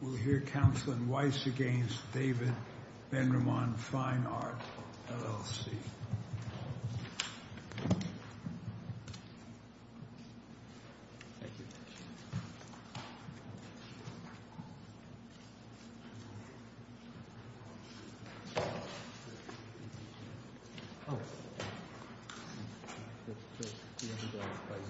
We'll hear Councilman Weiss against David Ben-Ramon Fine Art, LLC. David Ben-Ramon Fine Art, LLC David Ben-Ramon Fine Art, LLC David Ben-Ramon Fine Art, LLC And third, Mr.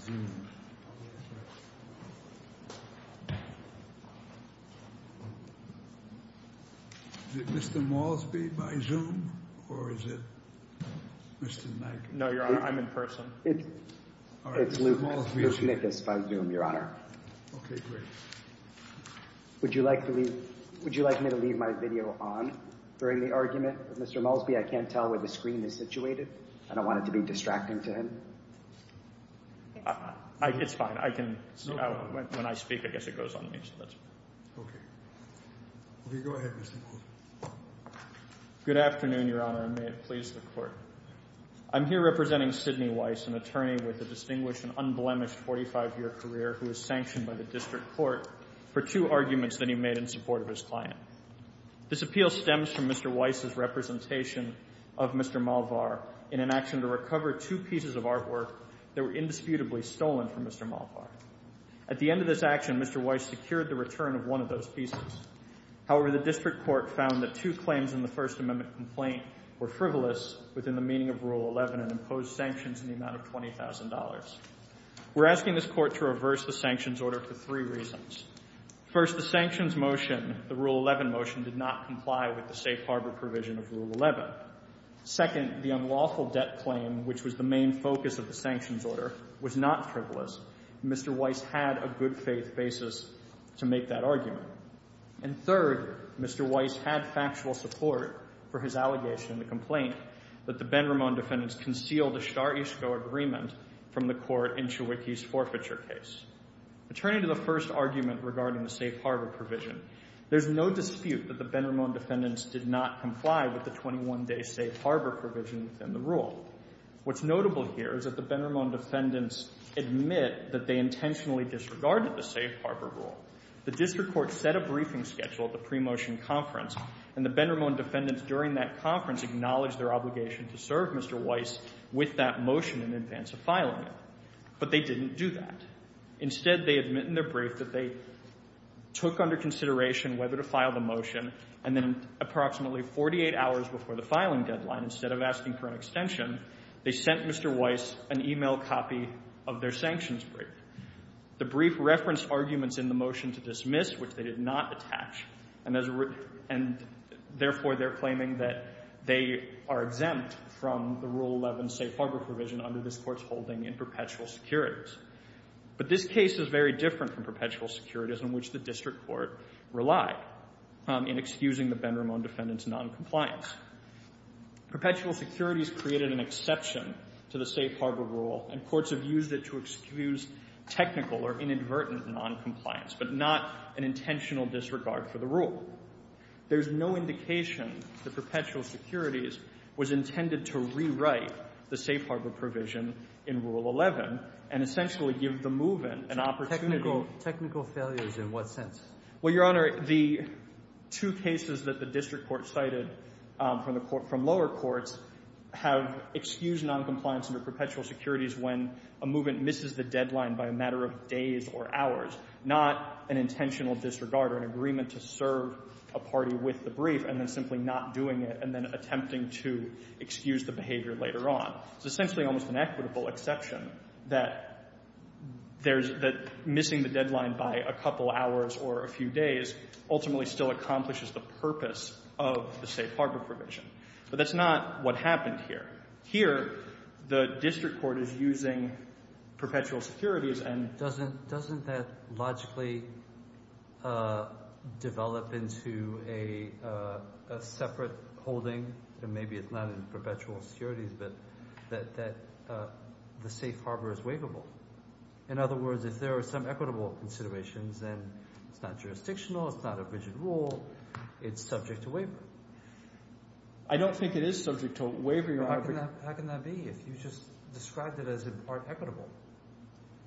Weiss had factual support for his allegation in the complaint that the Ben-Ramon defendants concealed a Shahr-Ishqo agreement from the court in Chewiki's forfeiture case. Returning to the first argument regarding the safe harbor provision, there's no dispute that the Ben-Ramon defendants did not comply with the 21-day safe harbor provision in the rule. What's notable here is that the Ben-Ramon defendants admit that they intentionally disregarded the safe harbor rule. The district court set a briefing schedule at the pre-motion conference, and the Ben-Ramon defendants during that conference acknowledged their obligation to serve Mr. Weiss with that motion in advance of filing it. But they didn't do that. Instead, they admit in their brief that they took under consideration whether to file the motion, and then approximately 48 hours before the filing deadline, instead of asking for an extension, they sent Mr. Weiss an email copy of their sanctions brief. The brief referenced arguments in the motion to dismiss, which they did not attach, and therefore they're claiming that they are exempt from the Rule 11 safe harbor provision under this court's holding in perpetual securities. But this case is very different from perpetual securities in which the district court relied in excusing the Ben-Ramon defendants' noncompliance. Perpetual securities created an exception to the safe harbor rule, and courts have used it to excuse technical or inadvertent noncompliance, but not an intentional disregard for the rule. There's no indication that perpetual securities was intended to rewrite the safe harbor provision in Rule 11 and essentially give the move-in an opportunity. Technical failures in what sense? Well, Your Honor, the two cases that the district court cited from lower courts have excused noncompliance under perpetual securities when a move-in misses the deadline by a matter of days or hours, not an intentional disregard or an agreement to serve a party with the brief and then simply not doing it and then attempting to excuse the behavior later on. It's essentially almost an equitable exception that missing the deadline by a couple hours or a few days ultimately still accomplishes the purpose of the safe harbor provision. But that's not what happened here. Here, the district court is using perpetual securities and— that the safe harbor is waivable. In other words, if there are some equitable considerations, then it's not jurisdictional, it's not a rigid rule, it's subject to waiver. I don't think it is subject to waiver, Your Honor. How can that be if you just described it as in part equitable?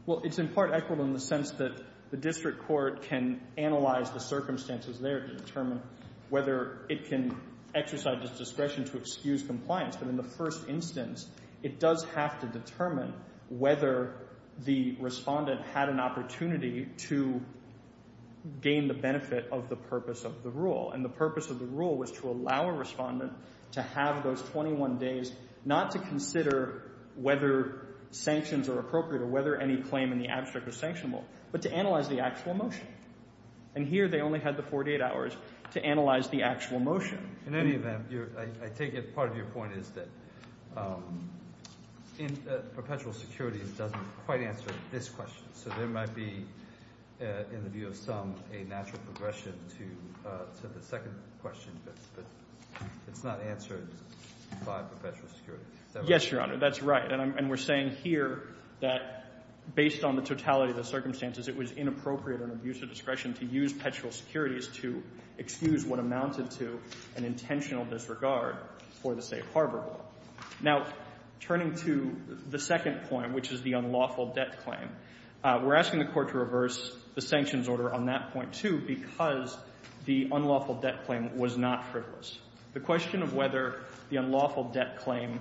Well, it's in part equitable in the sense that the district court can analyze the circumstances there to determine whether it can exercise its discretion to excuse compliance. But in the first instance, it does have to determine whether the respondent had an opportunity to gain the benefit of the purpose of the rule. And the purpose of the rule was to allow a respondent to have those 21 days not to consider whether sanctions are appropriate or whether any claim in the abstract is sanctionable, but to analyze the actual motion. And here they only had the 48 hours to analyze the actual motion. In any event, I take it part of your point is that perpetual securities doesn't quite answer this question. So there might be, in the view of some, a natural progression to the second question, but it's not answered by perpetual securities. Is that right? Yes, Your Honor, that's right. And we're saying here that based on the totality of the circumstances, it was inappropriate and abuse of discretion to use perpetual securities to excuse what amounted to an intentional disregard for the safe harbor rule. Now, turning to the second point, which is the unlawful debt claim, we're asking the court to reverse the sanctions order on that point, too, because the unlawful debt claim was not frivolous. The question of whether the unlawful debt claim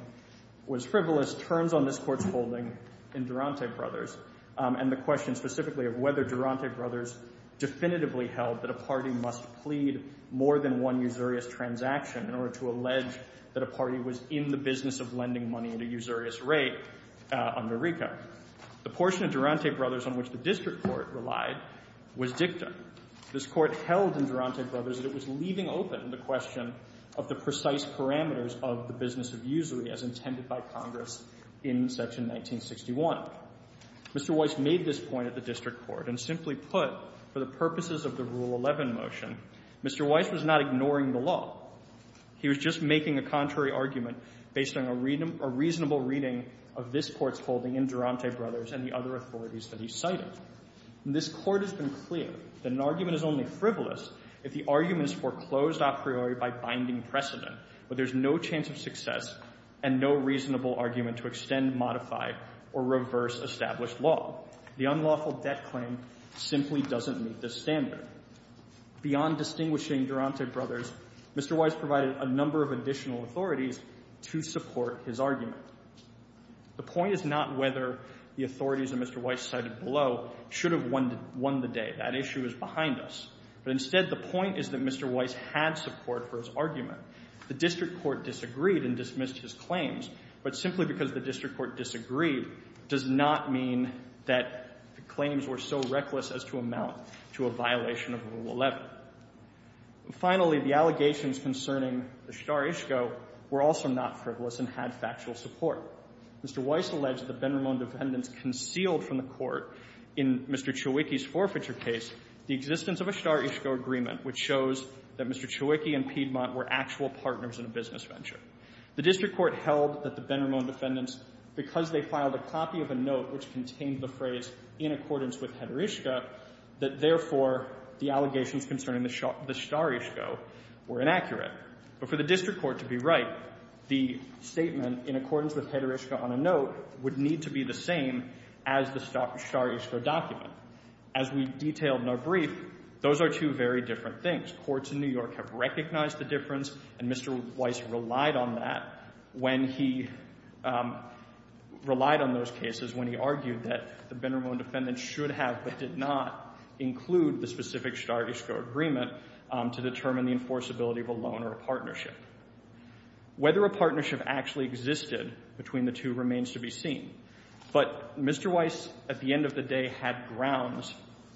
was frivolous turns on this Court's holding in Durante Brothers, and the question specifically of whether Durante Brothers definitively held that a party must plead more than one usurious transaction in order to allege that a party was in the business of lending money at a usurious rate under RICO. The portion of Durante Brothers on which the district court relied was dicta. This Court held in Durante Brothers that it was leaving open the question of the precise parameters of the business of usury as intended by Congress in section 1961. Mr. Weiss made this point at the district court, and simply put, for the purposes of the Rule 11 motion, Mr. Weiss was not ignoring the law. He was just making a contrary argument based on a reasonable reading of this Court's holding in Durante Brothers and the other authorities that he cited. This Court has been clear that an argument is only frivolous if the argument is foreclosed a priori by binding precedent, but there's no chance of success and no reasonable argument to extend, modify, or reverse established law. The unlawful debt claim simply doesn't meet this standard. Beyond distinguishing Durante Brothers, Mr. Weiss provided a number of additional authorities to support his argument. The point is not whether the authorities that Mr. Weiss cited below should have won the day. That issue is behind us. But instead, the point is that Mr. Weiss had support for his argument. The district court disagreed and dismissed his claims, but simply because the district court disagreed does not mean that the claims were so reckless as to amount to a violation of Rule 11. Finally, the allegations concerning the shtar ishqa were also not frivolous and had factual support. Mr. Weiss alleged that the Benramon defendants concealed from the Court in Mr. Ciewiecki's forfeiture case the existence of a shtar ishqa agreement, which shows that Mr. Ciewiecki and Piedmont were actual partners in a business venture. The district court held that the Benramon defendants, because they filed a copy of a note which contained the phrase in accordance with heter ishqa, that therefore the allegations concerning the shtar ishqa were inaccurate. But for the district court to be right, the statement in accordance with heter ishqa on a note would need to be the same as the shtar ishqa document. As we detailed in our brief, those are two very different things. Courts in New York have recognized the difference, and Mr. Weiss relied on that when he relied on those cases, when he argued that the Benramon defendants should have but did not include the specific shtar ishqa agreement to determine the enforceability of a loan or a partnership. Whether a partnership actually existed between the two remains to be seen. But Mr. Weiss, at the end of the day, had grounds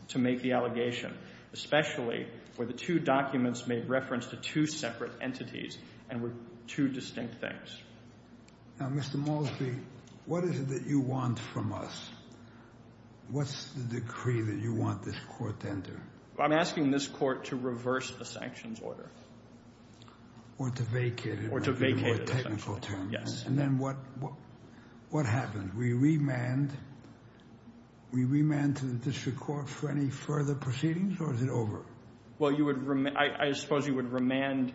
to make the allegation, especially where the two documents made reference to two separate entities and were two distinct things. Now, Mr. Molesby, what is it that you want from us? What's the decree that you want this court to enter? I'm asking this court to reverse the sanctions order. Or to vacate it. Or to vacate it, essentially. In a more technical term. Yes. And then what happens? We remand to the district court for any further proceedings, or is it over? Well, I suppose you would remand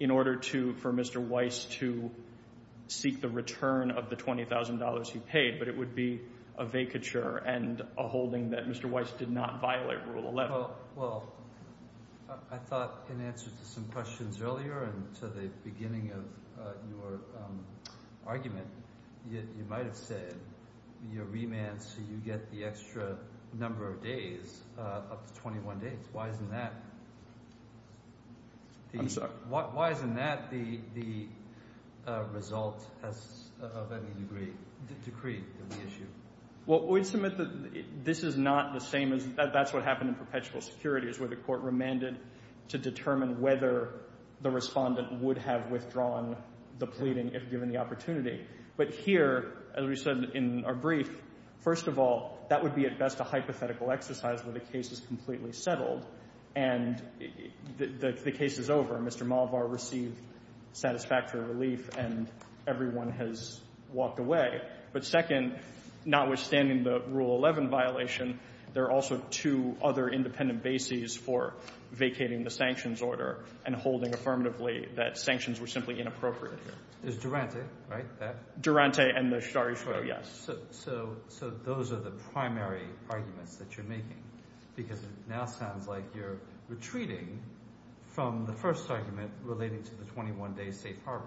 in order for Mr. Weiss to seek the return of the $20,000 he paid. But it would be a vacature and a holding that Mr. Weiss did not violate Rule 11. Well, I thought in answer to some questions earlier and to the beginning of your argument, you might have said you remand so you get the extra number of days, up to 21 days. Why isn't that? I'm sorry? Why isn't that the result of any decree of the issue? Well, we'd submit that this is not the same as – that's what happened in perpetual security, where the court remanded to determine whether the respondent would have withdrawn the pleading if given the opportunity. But here, as we said in our brief, first of all, that would be at best a hypothetical exercise where the case is completely settled. And the case is over. Mr. Malvar received satisfactory relief, and everyone has walked away. But second, notwithstanding the Rule 11 violation, there are also two other independent bases for vacating the sanctions order and holding affirmatively that sanctions were simply inappropriate here. There's Durante, right, that? Durante and the Shari-Shura, yes. So those are the primary arguments that you're making because it now sounds like you're retreating from the first argument relating to the 21-day safe harbor.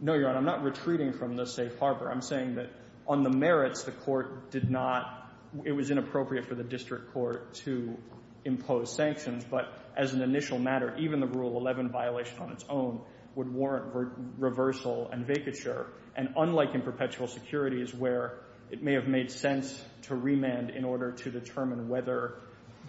No, Your Honor. I'm not retreating from the safe harbor. I'm saying that on the merits, the court did not – it was inappropriate for the district court to impose sanctions. But as an initial matter, even the Rule 11 violation on its own would warrant reversal and vacature. And unlike in perpetual security is where it may have made sense to remand in order to determine whether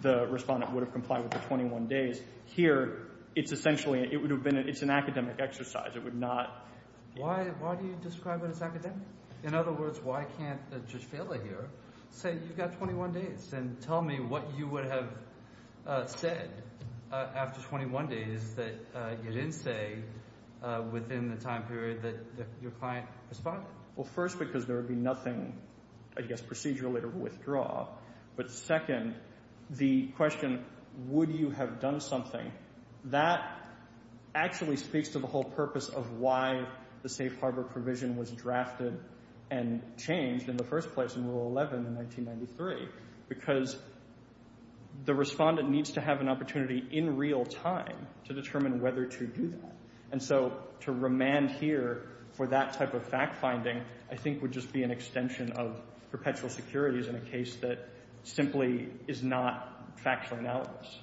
the respondent would have complied with the 21 days, here it's essentially – it would have been – it's an academic exercise. It would not – Why do you describe it as academic? In other words, why can't Judge Fehler here say you've got 21 days and tell me what you would have said after 21 days that you didn't say within the time period that your client responded? Well, first because there would be nothing, I guess, procedurally to withdraw. But second, the question would you have done something, that actually speaks to the whole purpose of why the safe harbor provision was drafted and changed in the first place in Rule 11 in 1993 because the respondent needs to have an opportunity in real time to determine whether to do that. And so to remand here for that type of fact finding I think would just be an extension of perpetual security in a case that simply is not factually analogous.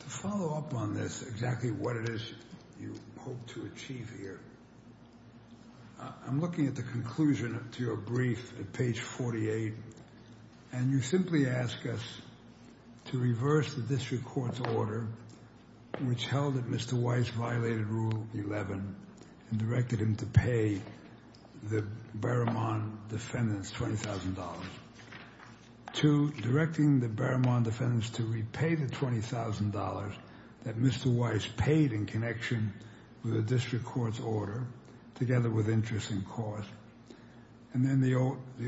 To follow up on this, exactly what it is you hope to achieve here, I'm looking at the conclusion to your brief at page 48, and you simply ask us to reverse the district court's order which held that Mr. Weiss violated Rule 11 and directed him to pay the Behrman defendants $20,000. Two, directing the Behrman defendants to repay the $20,000 that Mr. Weiss paid in connection with the district court's order together with interest and cost. And then the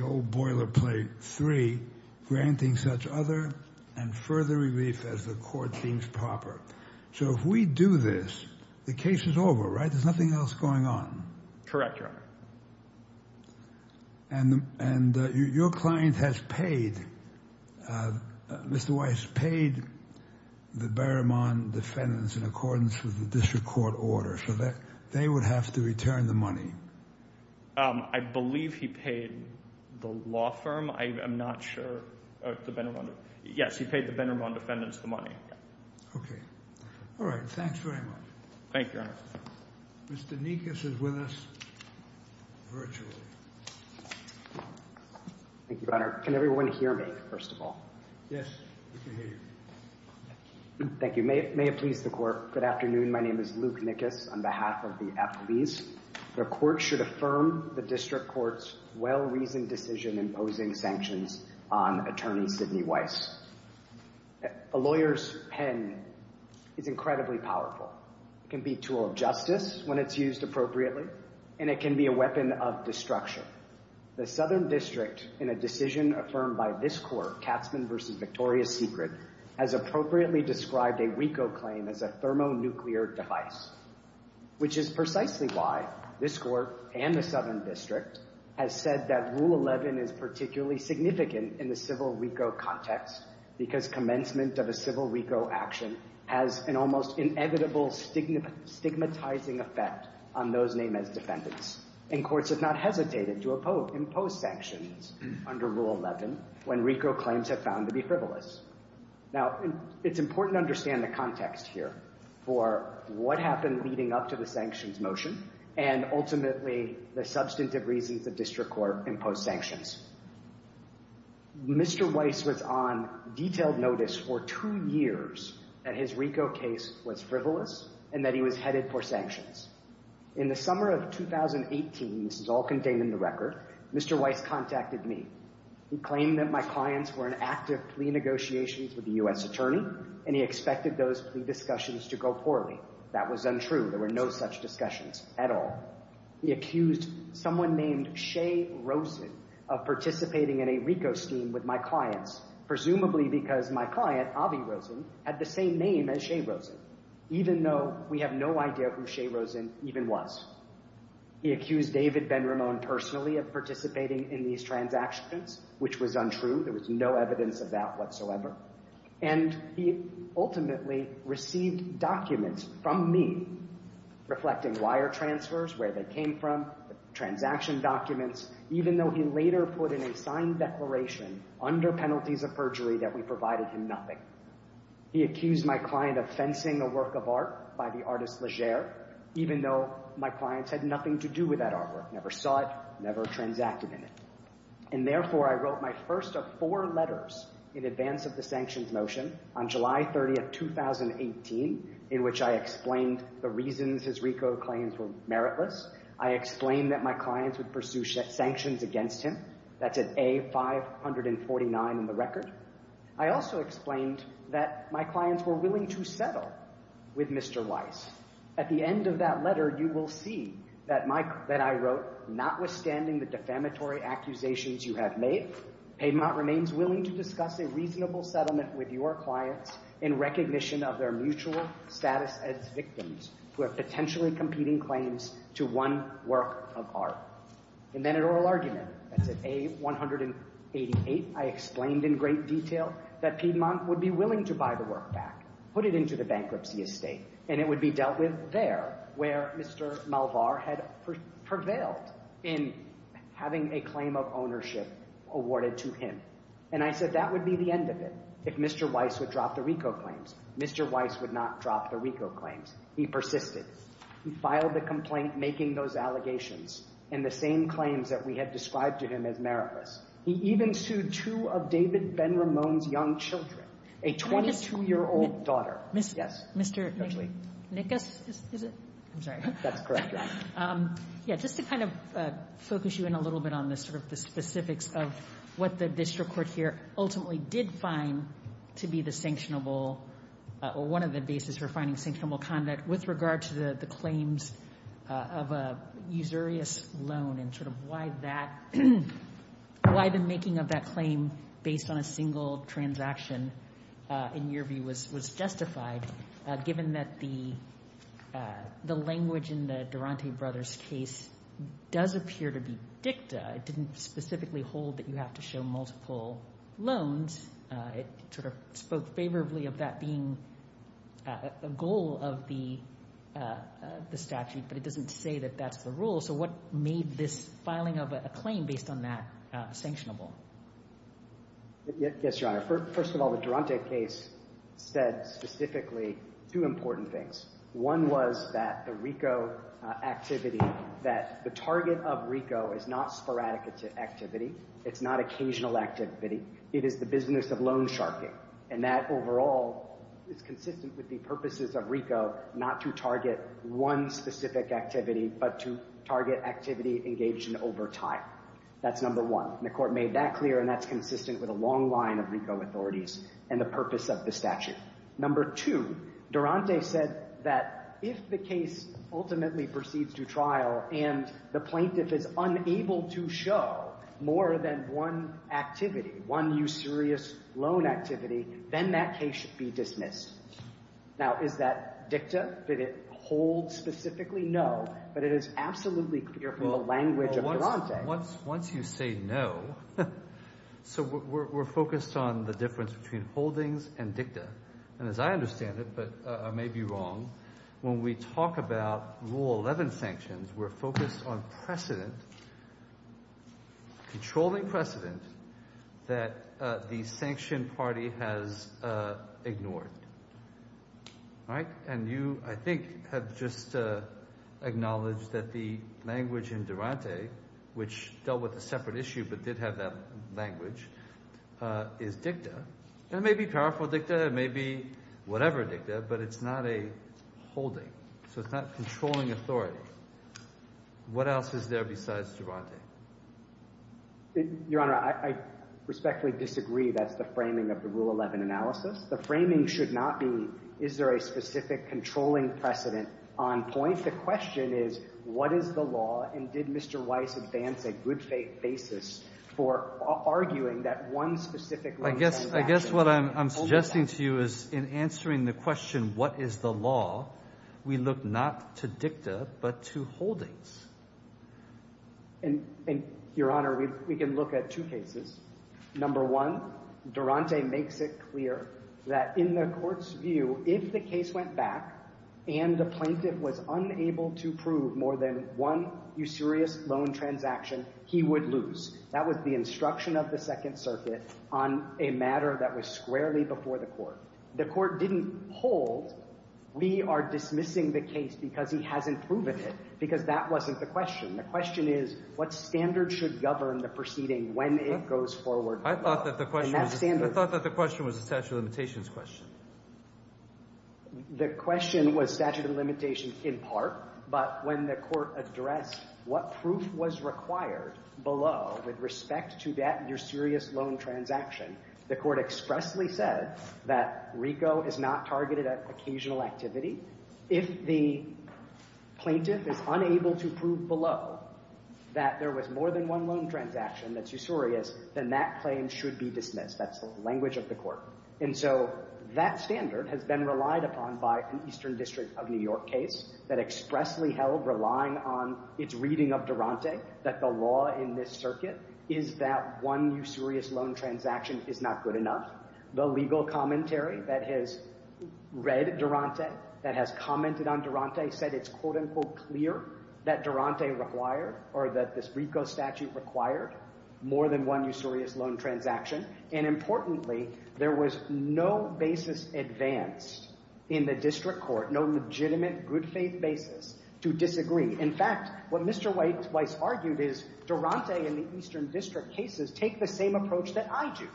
old boilerplate three, granting such other and further relief as the court deems proper. So if we do this, the case is over, right? There's nothing else going on. Correct, Your Honor. And your client has paid, Mr. Weiss paid the Behrman defendants in accordance with the district court order. So they would have to return the money. I believe he paid the law firm. I'm not sure. Yes, he paid the Behrman defendants the money. Okay. All right. Thanks very much. Thank you, Your Honor. Mr. Nikas is with us virtually. Thank you, Your Honor. Can everyone hear me, first of all? Yes, we can hear you. Thank you. May it please the court. Good afternoon. My name is Luke Nikas on behalf of the athletes. The court should affirm the district court's well-reasoned decision imposing sanctions on attorney Sidney Weiss. A lawyer's pen is incredibly powerful. It can be a tool of justice when it's used appropriately, and it can be a weapon of destruction. The Southern District, in a decision affirmed by this court, Katzman v. Victoria Secret, has appropriately described a WECO claim as a thermonuclear device, which is precisely why this court and the Southern District have said that Rule 11 is particularly significant in the civil WECO context because commencement of a civil WECO action has an almost inevitable stigmatizing effect on those named as defendants. And courts have not hesitated to impose sanctions under Rule 11 when WECO claims have found to be frivolous. Now, it's important to understand the context here for what happened leading up to the sanctions motion and ultimately the substantive reasons the district court imposed sanctions. Mr. Weiss was on detailed notice for two years that his WECO case was frivolous and that he was headed for sanctions. In the summer of 2018, this is all contained in the record, Mr. Weiss contacted me. He claimed that my clients were in active plea negotiations with the U.S. attorney, and he expected those plea discussions to go poorly. That was untrue. There were no such discussions at all. He accused someone named Shea Rosen of participating in a WECO scheme with my clients, presumably because my client, Avi Rosen, had the same name as Shea Rosen, even though we have no idea who Shea Rosen even was. He accused David Ben-Ramon personally of participating in these transactions, which was untrue. There was no evidence of that whatsoever. And he ultimately received documents from me reflecting wire transfers, where they came from, transaction documents, even though he later put in a signed declaration under penalties of perjury that we provided him nothing. He accused my client of fencing a work of art by the artist Legere, even though my clients had nothing to do with that artwork, never saw it, never transacted in it. And therefore, I wrote my first of four letters in advance of the sanctions motion on July 30, 2018, in which I explained the reasons his WECO claims were meritless. I explained that my clients would pursue sanctions against him. That's at A549 in the record. I also explained that my clients were willing to settle with Mr. Weiss. At the end of that letter, you will see that I wrote, notwithstanding the defamatory accusations you have made, Piedmont remains willing to discuss a reasonable settlement with your clients in recognition of their mutual status as victims who have potentially competing claims to one work of art. And then an oral argument. That's at A188. I explained in great detail that Piedmont would be willing to buy the work back, put it into the bankruptcy estate, and it would be dealt with there, where Mr. Malvar had prevailed in having a claim of ownership awarded to him. And I said that would be the end of it. If Mr. Weiss would drop the WECO claims, Mr. Weiss would not drop the WECO claims. He persisted. He filed the complaint making those allegations, and the same claims that we had described to him as meritless. He even sued two of David Ben-Ramon's young children, a 22-year-old daughter. Yes. Mr. Nickus, is it? I'm sorry. That's correct, Your Honor. Yeah, just to kind of focus you in a little bit on the specifics of what the district court here ultimately did find to be the sanctionable or one of the bases for finding sanctionable conduct with regard to the claims of a usurious loan and sort of why the making of that claim based on a single transaction, in your view, was justified, given that the language in the Durante brothers' case does appear to be dicta. It didn't specifically hold that you have to show multiple loans. It sort of spoke favorably of that being a goal of the statute, but it doesn't say that that's the rule. So what made this filing of a claim based on that sanctionable? Yes, Your Honor. First of all, the Durante case said specifically two important things. One was that the RICO activity, that the target of RICO is not sporadic activity. It's not occasional activity. It is the business of loan sharking, and that overall is consistent with the purposes of RICO not to target one specific activity, but to target activity engaged in over time. That's number one. The court made that clear, and that's consistent with a long line of RICO authorities and the purpose of the statute. Number two, Durante said that if the case ultimately proceeds to trial and the plaintiff is unable to show more than one activity, one usurious loan activity, then that case should be dismissed. Now, is that dicta? Did it hold specifically? No, but it is absolutely clear from the language of Durante. Once you say no, so we're focused on the difference between holdings and dicta. And as I understand it, but I may be wrong, when we talk about Rule 11 sanctions, we're focused on precedent, controlling precedent that the sanction party has ignored. And you, I think, have just acknowledged that the language in Durante, which dealt with a separate issue but did have that language, is dicta. It may be powerful dicta. It may be whatever dicta, but it's not a holding. So it's not controlling authority. What else is there besides Durante? Your Honor, I respectfully disagree. That's the framing of the Rule 11 analysis. The framing should not be is there a specific controlling precedent on point. The question is what is the law, and did Mr. Weiss advance a good basis for arguing that one specific rule I guess what I'm suggesting to you is in answering the question what is the law, we look not to dicta but to holdings. And, Your Honor, we can look at two cases. Number one, Durante makes it clear that in the court's view, if the case went back and the plaintiff was unable to prove more than one usurious loan transaction, he would lose. That was the instruction of the Second Circuit on a matter that was squarely before the court. The court didn't hold. We are dismissing the case because he hasn't proven it because that wasn't the question. The question is what standard should govern the proceeding when it goes forward. I thought that the question was a statute of limitations question. The question was statute of limitations in part, but when the court addressed what proof was required below with respect to that usurious loan transaction, the court expressly said that RICO is not targeted at occasional activity. If the plaintiff is unable to prove below that there was more than one loan transaction that's usurious, then that claim should be dismissed. That's the language of the court. That standard has been relied upon by an Eastern District of New York case that expressly held, relying on its reading of Durante, that the law in this circuit is that one usurious loan transaction is not good enough. The legal commentary that has read Durante, that has commented on Durante, said it's quote-unquote clear that Durante required or that this RICO statute required more than one usurious loan transaction. And importantly, there was no basis advanced in the district court, no legitimate good faith basis to disagree. In fact, what Mr. Weiss argued is Durante and the Eastern District cases take the same approach that I do.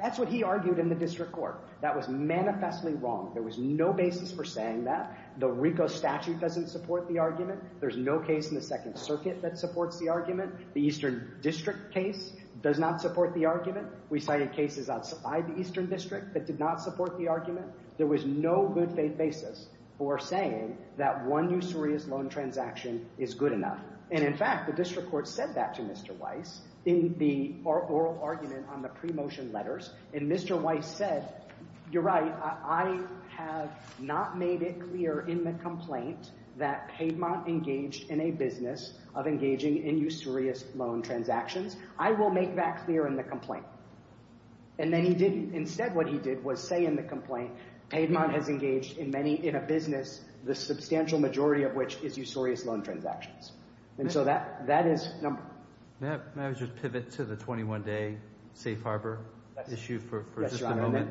That's what he argued in the district court. That was manifestly wrong. There was no basis for saying that. The RICO statute doesn't support the argument. There's no case in the Second Circuit that supports the argument. The Eastern District case does not support the argument. We cited cases outside the Eastern District that did not support the argument. There was no good faith basis for saying that one usurious loan transaction is good enough. And in fact, the district court said that to Mr. Weiss in the oral argument on the pre-motion letters. And Mr. Weiss said, you're right, I have not made it clear in the complaint that Paidmont engaged in a business of engaging in usurious loan transactions. I will make that clear in the complaint. And then he didn't. Instead, what he did was say in the complaint, Paidmont has engaged in a business, the substantial majority of which is usurious loan transactions. And so that is number one. May I just pivot to the 21-day safe harbor issue for just a moment?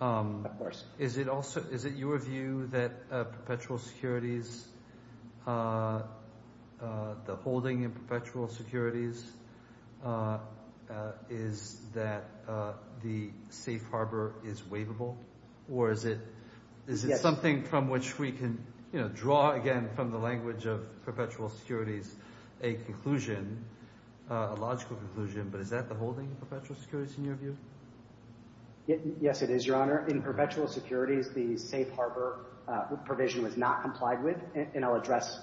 Of course. Is it your view that perpetual securities, the holding in perpetual securities, is that the safe harbor is waivable? Or is it something from which we can draw again from the language of perpetual securities a conclusion, a logical conclusion, but is that the holding of perpetual securities in your view? Yes, it is, Your Honor. In perpetual securities, the safe harbor provision was not complied with. And I'll address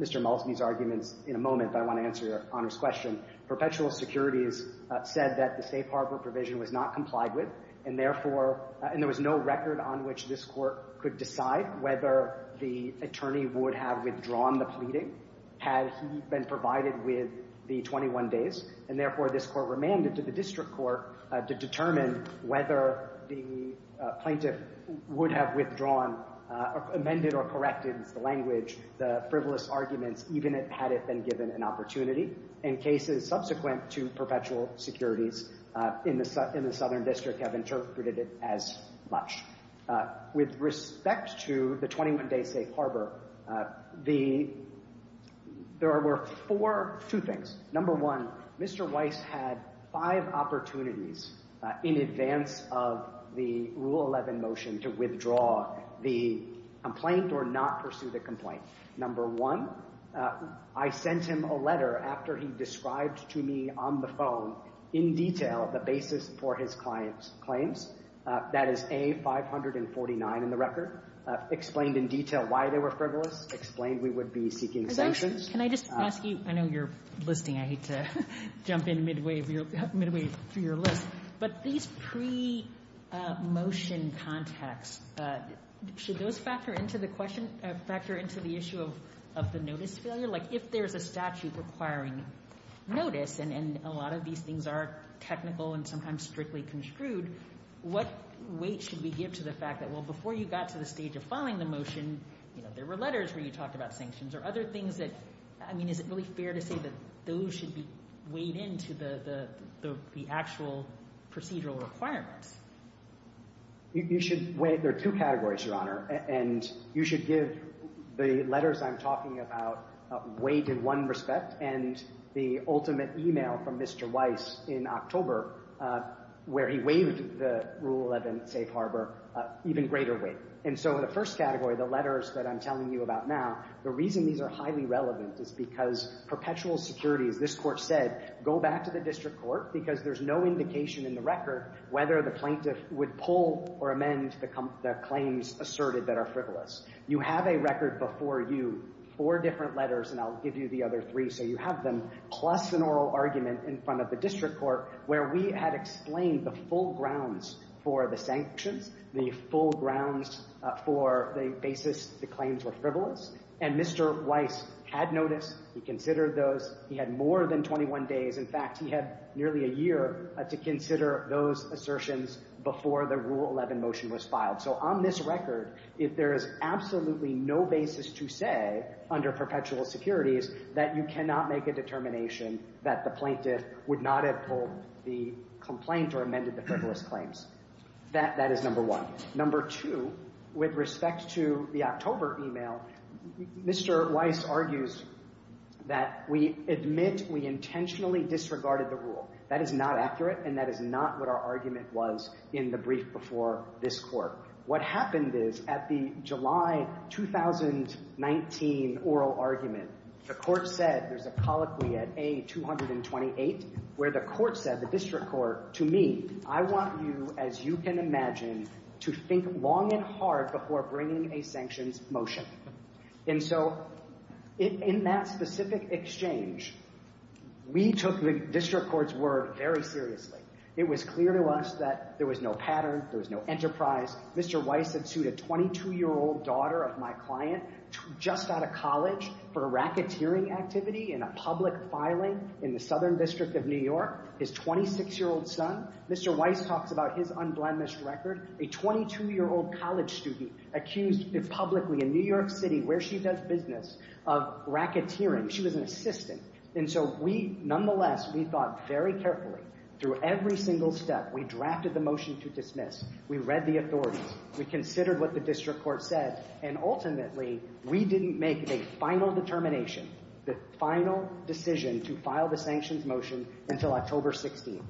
Mr. Malsby's arguments in a moment, but I want to answer Your Honor's question. Perpetual securities said that the safe harbor provision was not complied with, and therefore there was no record on which this Court could decide whether the attorney would have withdrawn the pleading had he been provided with the 21 days. And therefore, this Court remanded to the district court to determine whether the plaintiff would have withdrawn, amended or corrected the language, the frivolous arguments, even had it been given an opportunity. And cases subsequent to perpetual securities in the Southern District have interpreted it as much. With respect to the 21-day safe harbor, there were two things. Number one, Mr. Weiss had five opportunities in advance of the Rule 11 motion to withdraw the complaint or not pursue the complaint. Number one, I sent him a letter after he described to me on the phone in detail the basis for his client's claims. That is A-549 in the record, explained in detail why they were frivolous, explained we would be seeking sanctions. Can I just ask you, I know you're listing, I hate to jump in midway through your list, but these pre-motion contacts, should those factor into the question, factor into the issue of the notice failure? Like if there's a statute requiring notice and a lot of these things are technical and sometimes strictly construed, what weight should we give to the fact that, well, before you got to the stage of filing the motion, you know, there were letters where you talked about sanctions or other things that, I mean, is it really fair to say that those should be weighed into the actual procedural requirements? There are two categories, Your Honor, and you should give the letters I'm talking about weight in one respect and the ultimate email from Mr. Weiss in October where he weighed the Rule 11 safe harbor even greater weight. And so in the first category, the letters that I'm telling you about now, the reason these are highly relevant is because perpetual security, as this court said, go back to the district court because there's no indication in the record whether the plaintiff would pull or amend the claims asserted that are frivolous. You have a record before you, four different letters, and I'll give you the other three so you have them, plus an oral argument in front of the district court where we had explained the full grounds for the sanctions, the full grounds for the basis the claims were frivolous, and Mr. Weiss had noticed, he considered those, he had more than 21 days, in fact, he had nearly a year to consider those assertions before the Rule 11 motion was filed. So on this record, if there is absolutely no basis to say under perpetual securities that you cannot make a determination that the plaintiff would not have pulled the complaint or amended the frivolous claims, that is number one. Number two, with respect to the October email, Mr. Weiss argues that we admit we intentionally disregarded the rule. That is not accurate and that is not what our argument was in the brief before this court. What happened is at the July 2019 oral argument, the court said, there's a colloquy at A228 where the court said, the district court, to me, I want you, as you can imagine, to think long and hard before bringing a sanctions motion. And so in that specific exchange, we took the district court's word very seriously. It was clear to us that there was no pattern, there was no enterprise. Mr. Weiss had sued a 22-year-old daughter of my client just out of college for a racketeering activity in a public filing in the Southern District of New York, his 26-year-old son. Mr. Weiss talks about his unblemished record. A 22-year-old college student accused publicly in New York City, where she does business, of racketeering. She was an assistant. And so we, nonetheless, we thought very carefully through every single step. We drafted the motion to dismiss. We read the authorities. We considered what the district court said. And ultimately, we didn't make a final determination, the final decision to file the sanctions motion until October 16th,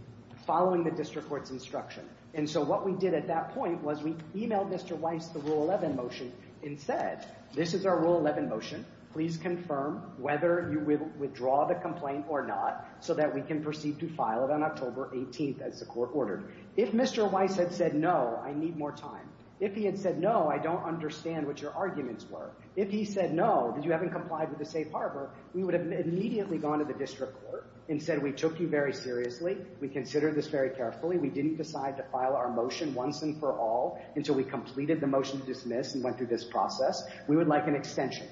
following the district court's instruction. And so what we did at that point was we emailed Mr. Weiss the Rule 11 motion and said, this is our Rule 11 motion. Please confirm whether you will withdraw the complaint or not so that we can proceed to file it on October 18th, as the court ordered. If Mr. Weiss had said no, I need more time. If he had said no, I don't understand what your arguments were. If he said no, because you haven't complied with the safe harbor, we would have immediately gone to the district court and said we took you very seriously. We considered this very carefully. We didn't decide to file our motion once and for all until we completed the motion to dismiss and went through this process. We would like an extension.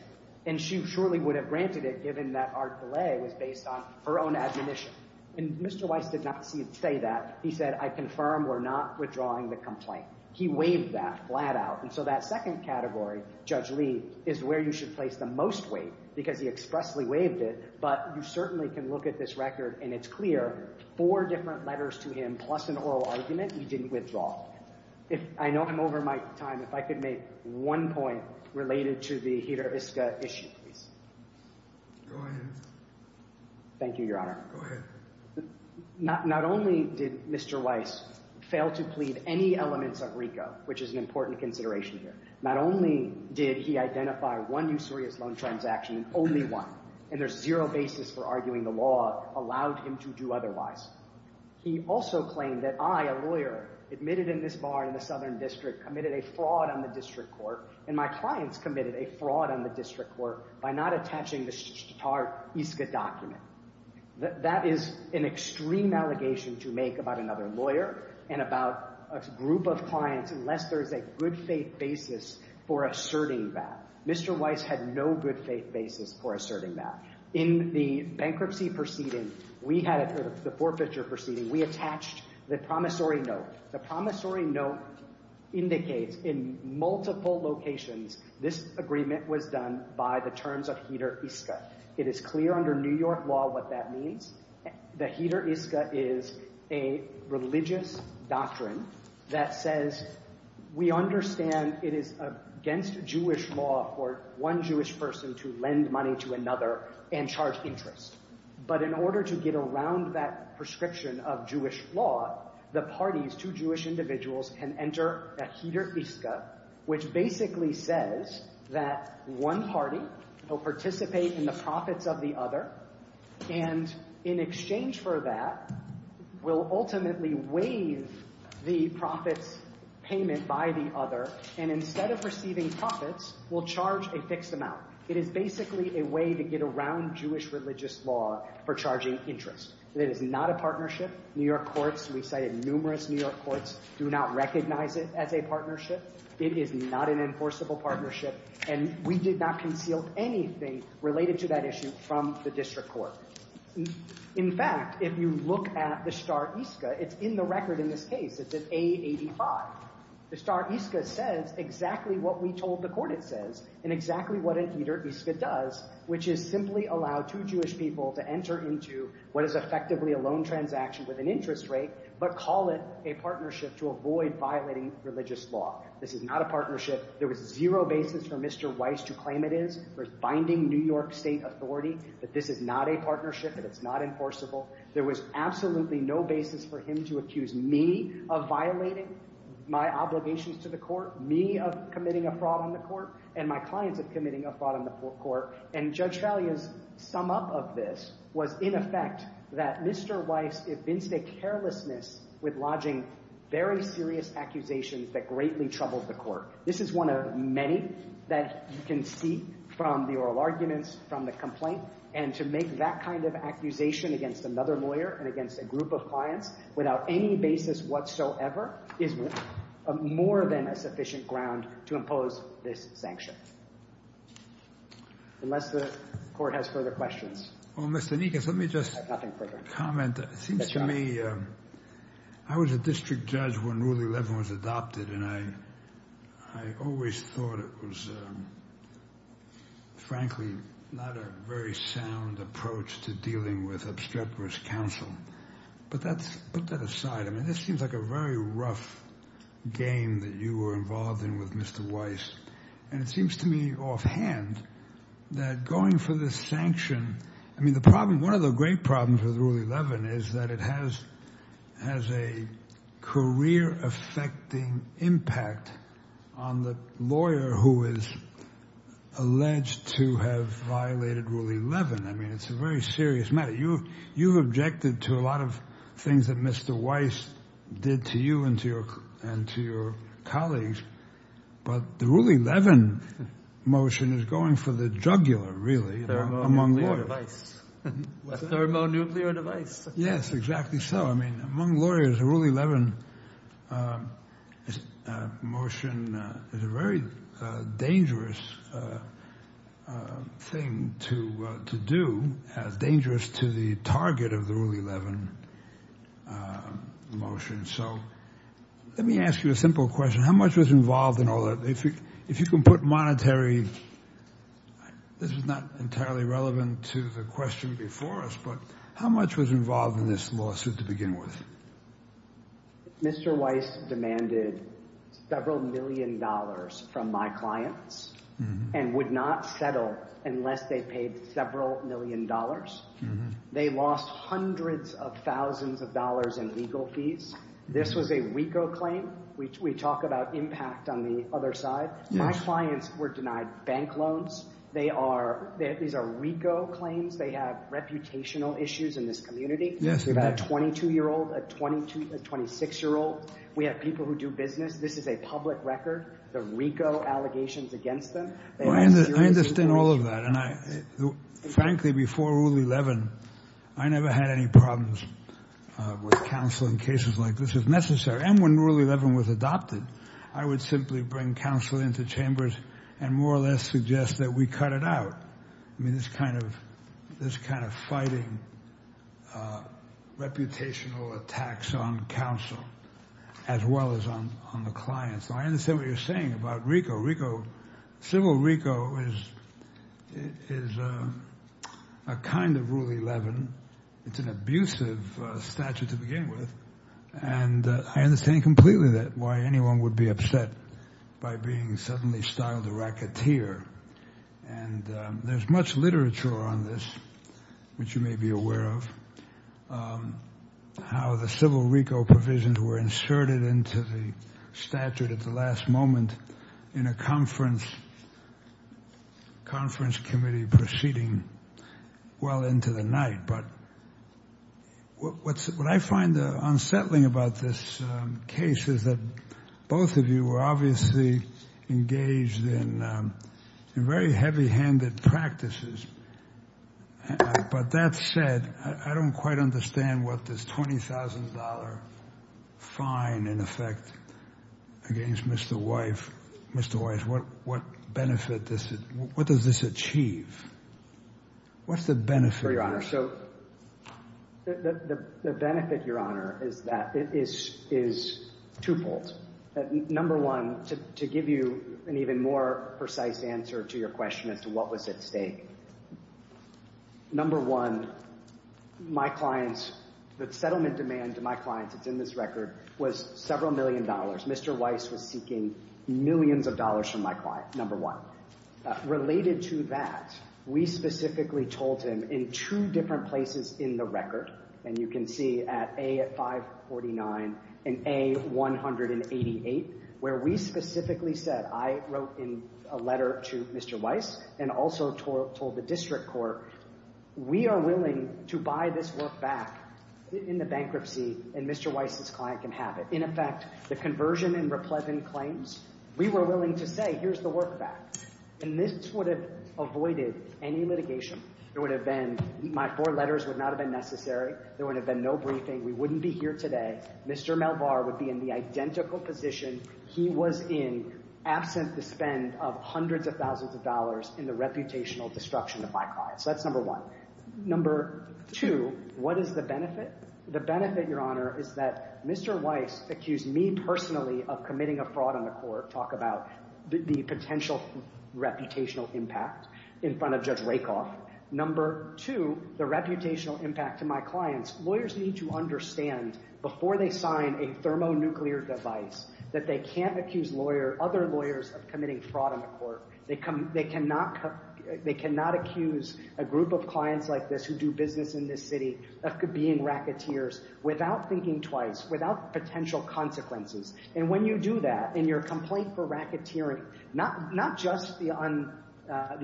And she surely would have granted it given that our delay was based on her own admonition. And Mr. Weiss did not say that. He said, I confirm we're not withdrawing the complaint. He waived that flat out. And so that second category, Judge Lee, is where you should place the most weight because he expressly waived it. But you certainly can look at this record, and it's clear, four different letters to him plus an oral argument, he didn't withdraw. I know I'm over my time. If I could make one point related to the Jiraviska issue, please. Go ahead. Thank you, Your Honor. Go ahead. Not only did Mr. Weiss fail to plead any elements of RICO, which is an important consideration here, not only did he identify one usurious loan transaction, only one, and there's zero basis for arguing the law allowed him to do otherwise, he also claimed that I, a lawyer, admitted in this bar in the Southern District, committed a fraud on the district court, and my clients committed a fraud on the district court, by not attaching the SHTART ISCA document. That is an extreme allegation to make about another lawyer and about a group of clients unless there is a good faith basis for asserting that. Mr. Weiss had no good faith basis for asserting that. In the bankruptcy proceeding, the forfeiture proceeding, we attached the promissory note. The promissory note indicates in multiple locations this agreement was done by the terms of HEDER ISCA. It is clear under New York law what that means. The HEDER ISCA is a religious doctrine that says we understand it is against Jewish law for one Jewish person to lend money to another and charge interest, but in order to get around that prescription of Jewish law, the parties, two Jewish individuals, can enter a HEDER ISCA, which basically says that one party will participate in the profits of the other, and in exchange for that, will ultimately waive the profits payment by the other, and instead of receiving profits, will charge a fixed amount. It is basically a way to get around Jewish religious law for charging interest. It is not a partnership. New York courts, we cited numerous New York courts, do not recognize it as a partnership. It is not an enforceable partnership, and we did not conceal anything related to that issue from the district court. In fact, if you look at the SHTART ISCA, it's in the record in this case. It's an A85. The SHTART ISCA says exactly what we told the court it says, and exactly what a HEDER ISCA does, which is simply allow two Jewish people to enter into what is effectively a loan transaction with an interest rate, but call it a partnership to avoid violating religious law. This is not a partnership. There was zero basis for Mr. Weiss to claim it is. There's binding New York state authority that this is not a partnership, that it's not enforceable. There was absolutely no basis for him to accuse me of violating my obligations to the court, me of committing a fraud on the court, and my clients of committing a fraud on the court, and Judge Fallia's sum up of this was in effect that Mr. Weiss evinced a carelessness with lodging very serious accusations that greatly troubled the court. This is one of many that you can see from the oral arguments, from the complaint, and to make that kind of accusation against another lawyer and against a group of clients without any basis whatsoever is more than a sufficient ground to impose this sanction. Unless the court has further questions. Well, Mr. Nikas, let me just comment. It seems to me I was a district judge when Rule 11 was adopted, and I always thought it was, frankly, not a very sound approach to dealing with obstreperous counsel. But put that aside. I mean, this seems like a very rough game that you were involved in with Mr. Weiss, and it seems to me offhand that going for this sanction, I mean, one of the great problems with Rule 11 is that it has a career-affecting impact on the lawyer who is alleged to have violated Rule 11. I mean, it's a very serious matter. You've objected to a lot of things that Mr. Weiss did to you and to your colleagues, but the Rule 11 motion is going for the jugular, really, among lawyers. A thermonuclear device. Yes, exactly so. I mean, among lawyers, a Rule 11 motion is a very dangerous thing to do, as dangerous to the target of the Rule 11 motion. So let me ask you a simple question. How much was involved in all that? If you can put monetary—this is not entirely relevant to the question before us, but how much was involved in this lawsuit to begin with? Mr. Weiss demanded several million dollars from my clients and would not settle unless they paid several million dollars. They lost hundreds of thousands of dollars in legal fees. This was a WECO claim. We talk about impact on the other side. My clients were denied bank loans. These are WECO claims. They have reputational issues in this community. We've got a 22-year-old, a 26-year-old. We have people who do business. This is a public record, the WECO allegations against them. I understand all of that, and frankly, before Rule 11, I never had any problems with counsel in cases like this, if necessary. And when Rule 11 was adopted, I would simply bring counsel into chambers and more or less suggest that we cut it out, this kind of fighting, reputational attacks on counsel as well as on the clients. I understand what you're saying about WECO. Civil WECO is a kind of Rule 11. It's an abusive statute to begin with. And I understand completely why anyone would be upset by being suddenly styled a racketeer. And there's much literature on this, which you may be aware of, how the Civil WECO provisions were inserted into the statute at the last moment in a conference committee proceeding well into the night. But what I find unsettling about this case is that both of you were obviously engaged in very heavy-handed practices. But that said, I don't quite understand what this $20,000 fine, in effect, against Mr. Wise, what benefit does this achieve? What's the benefit? Your Honor, so the benefit, Your Honor, is that it is twofold. Number one, to give you an even more precise answer to your question as to what was at stake, number one, my clients, the settlement demand to my clients that's in this record was several million dollars. Mr. Wise was seeking millions of dollars from my client, number one. Related to that, we specifically told him in two different places in the record, and you can see at A549 and A188, where we specifically said, I wrote in a letter to Mr. Wise and also told the district court, we are willing to buy this work back in the bankruptcy, and Mr. Wise's client can have it. In effect, the conversion and replacement claims, we were willing to say, here's the work back. And this would have avoided any litigation. It would have been, my four letters would not have been necessary. There would have been no briefing. We wouldn't be here today. Mr. Malbar would be in the identical position he was in, absent the spend of hundreds of thousands of dollars in the reputational destruction of my clients. That's number one. Number two, what is the benefit? The benefit, Your Honor, is that Mr. Wise accused me personally of committing a fraud on the court. Talk about the potential reputational impact in front of Judge Rakoff. Number two, the reputational impact to my clients. Lawyers need to understand, before they sign a thermonuclear device, that they can't accuse other lawyers of committing fraud on the court. They cannot accuse a group of clients like this, who do business in this city, of being racketeers, without thinking twice, without potential consequences. And when you do that, in your complaint for racketeering, not just the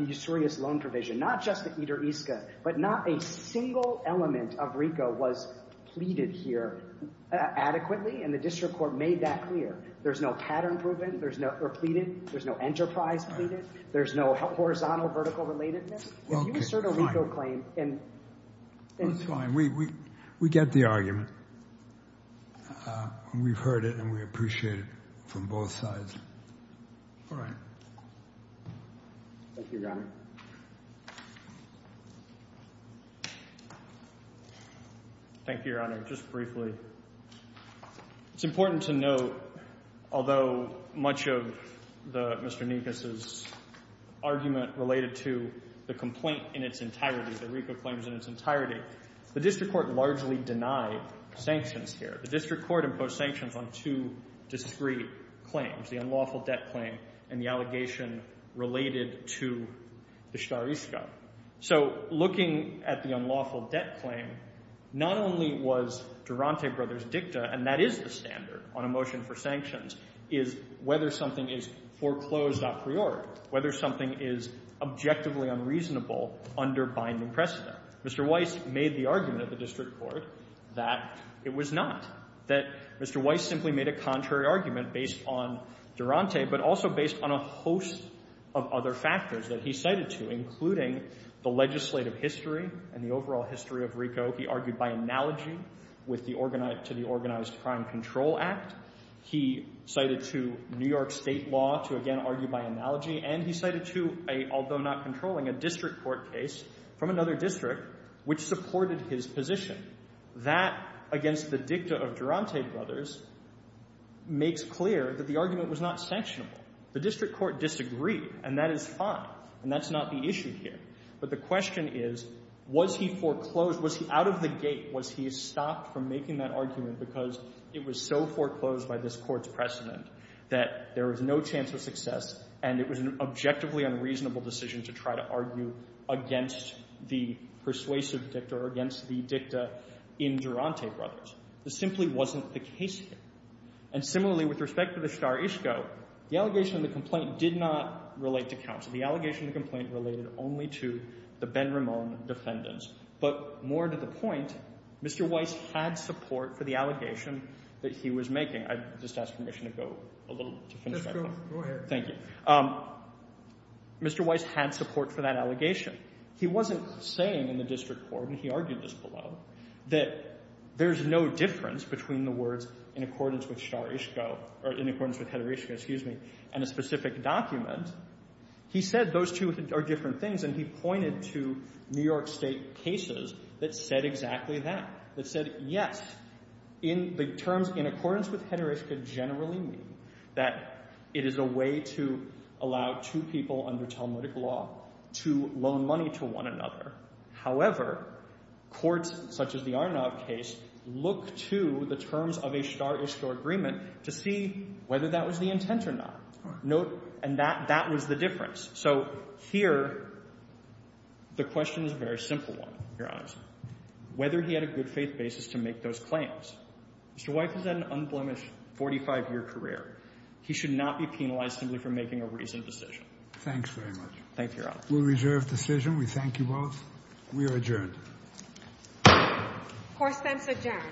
usurious loan provision, not just the Eder-ISCA, but not a single element of RICO was pleaded here adequately, and the district court made that clear. There's no pattern proven or pleaded. There's no enterprise pleaded. There's no horizontal, vertical relatedness. If you assert a RICO claim and... That's fine. We get the argument. We've heard it and we appreciate it from both sides. All right. Thank you, Your Honor. Thank you, Your Honor. Just briefly. It's important to note, although much of Mr. Nikos' argument related to the complaint in its entirety, the RICO claims in its entirety, the district court largely denied sanctions here. The district court imposed sanctions on two discrete claims, the unlawful debt claim and the allegation related to the Eder-ISCA. So looking at the unlawful debt claim, not only was Durante Brothers' dicta, and that is the standard on a motion for sanctions, is whether something is foreclosed a priori, whether something is objectively unreasonable under binding precedent. Mr. Weiss made the argument of the district court that it was not, that Mr. Weiss simply made a contrary argument based on Durante but also based on a host of other factors that he cited to, including the legislative history and the overall history of RICO. He argued by analogy to the Organized Crime Control Act. He cited to New York state law to, again, argue by analogy. And he cited to, although not controlling, a district court case from another district which supported his position. That, against the dicta of Durante Brothers, makes clear that the argument was not sanctionable. The district court disagreed, and that is fine. And that's not the issue here. But the question is, was he foreclosed? Was he out of the gate? Was he stopped from making that argument because it was so foreclosed by this Court's precedent that there was no chance of success, and it was an objectively unreasonable decision to try to argue against the persuasive dicta or against the dicta in Durante Brothers? This simply wasn't the case here. And similarly, with respect to the Shadar-ISCO, the allegation of the complaint did not relate to counsel. The allegation of the complaint related only to the Ben Ramon defendants. But more to the point, Mr. Weiss had support for the allegation that he was making. I'd just ask permission to go a little to finish my point. Go ahead. Thank you. Mr. Weiss had support for that allegation. He wasn't saying in the district court, and he argued this below, that there's no difference between the words in accordance with Shadar-ISCO, or in accordance with Heather-ISCO, excuse me, and a specific document. He said those two are different things, and he pointed to New York State cases that said exactly that, that said, yes, the terms in accordance with Heather-ISCO generally mean that it is a way to allow two people under Talmudic law to loan money to one another. However, courts such as the Arnab case look to the terms of a Shadar-ISCO agreement to see whether that was the intent or not. And that was the difference. So here the question is a very simple one, Your Honor, whether he had a good faith basis to make those claims. Mr. Weiss has had an unblemished 45-year career. He should not be penalized simply for making a reasoned decision. Thanks very much. Thank you, Your Honor. We'll reserve decision. We thank you both. We are adjourned. Court is adjourned. Thank you.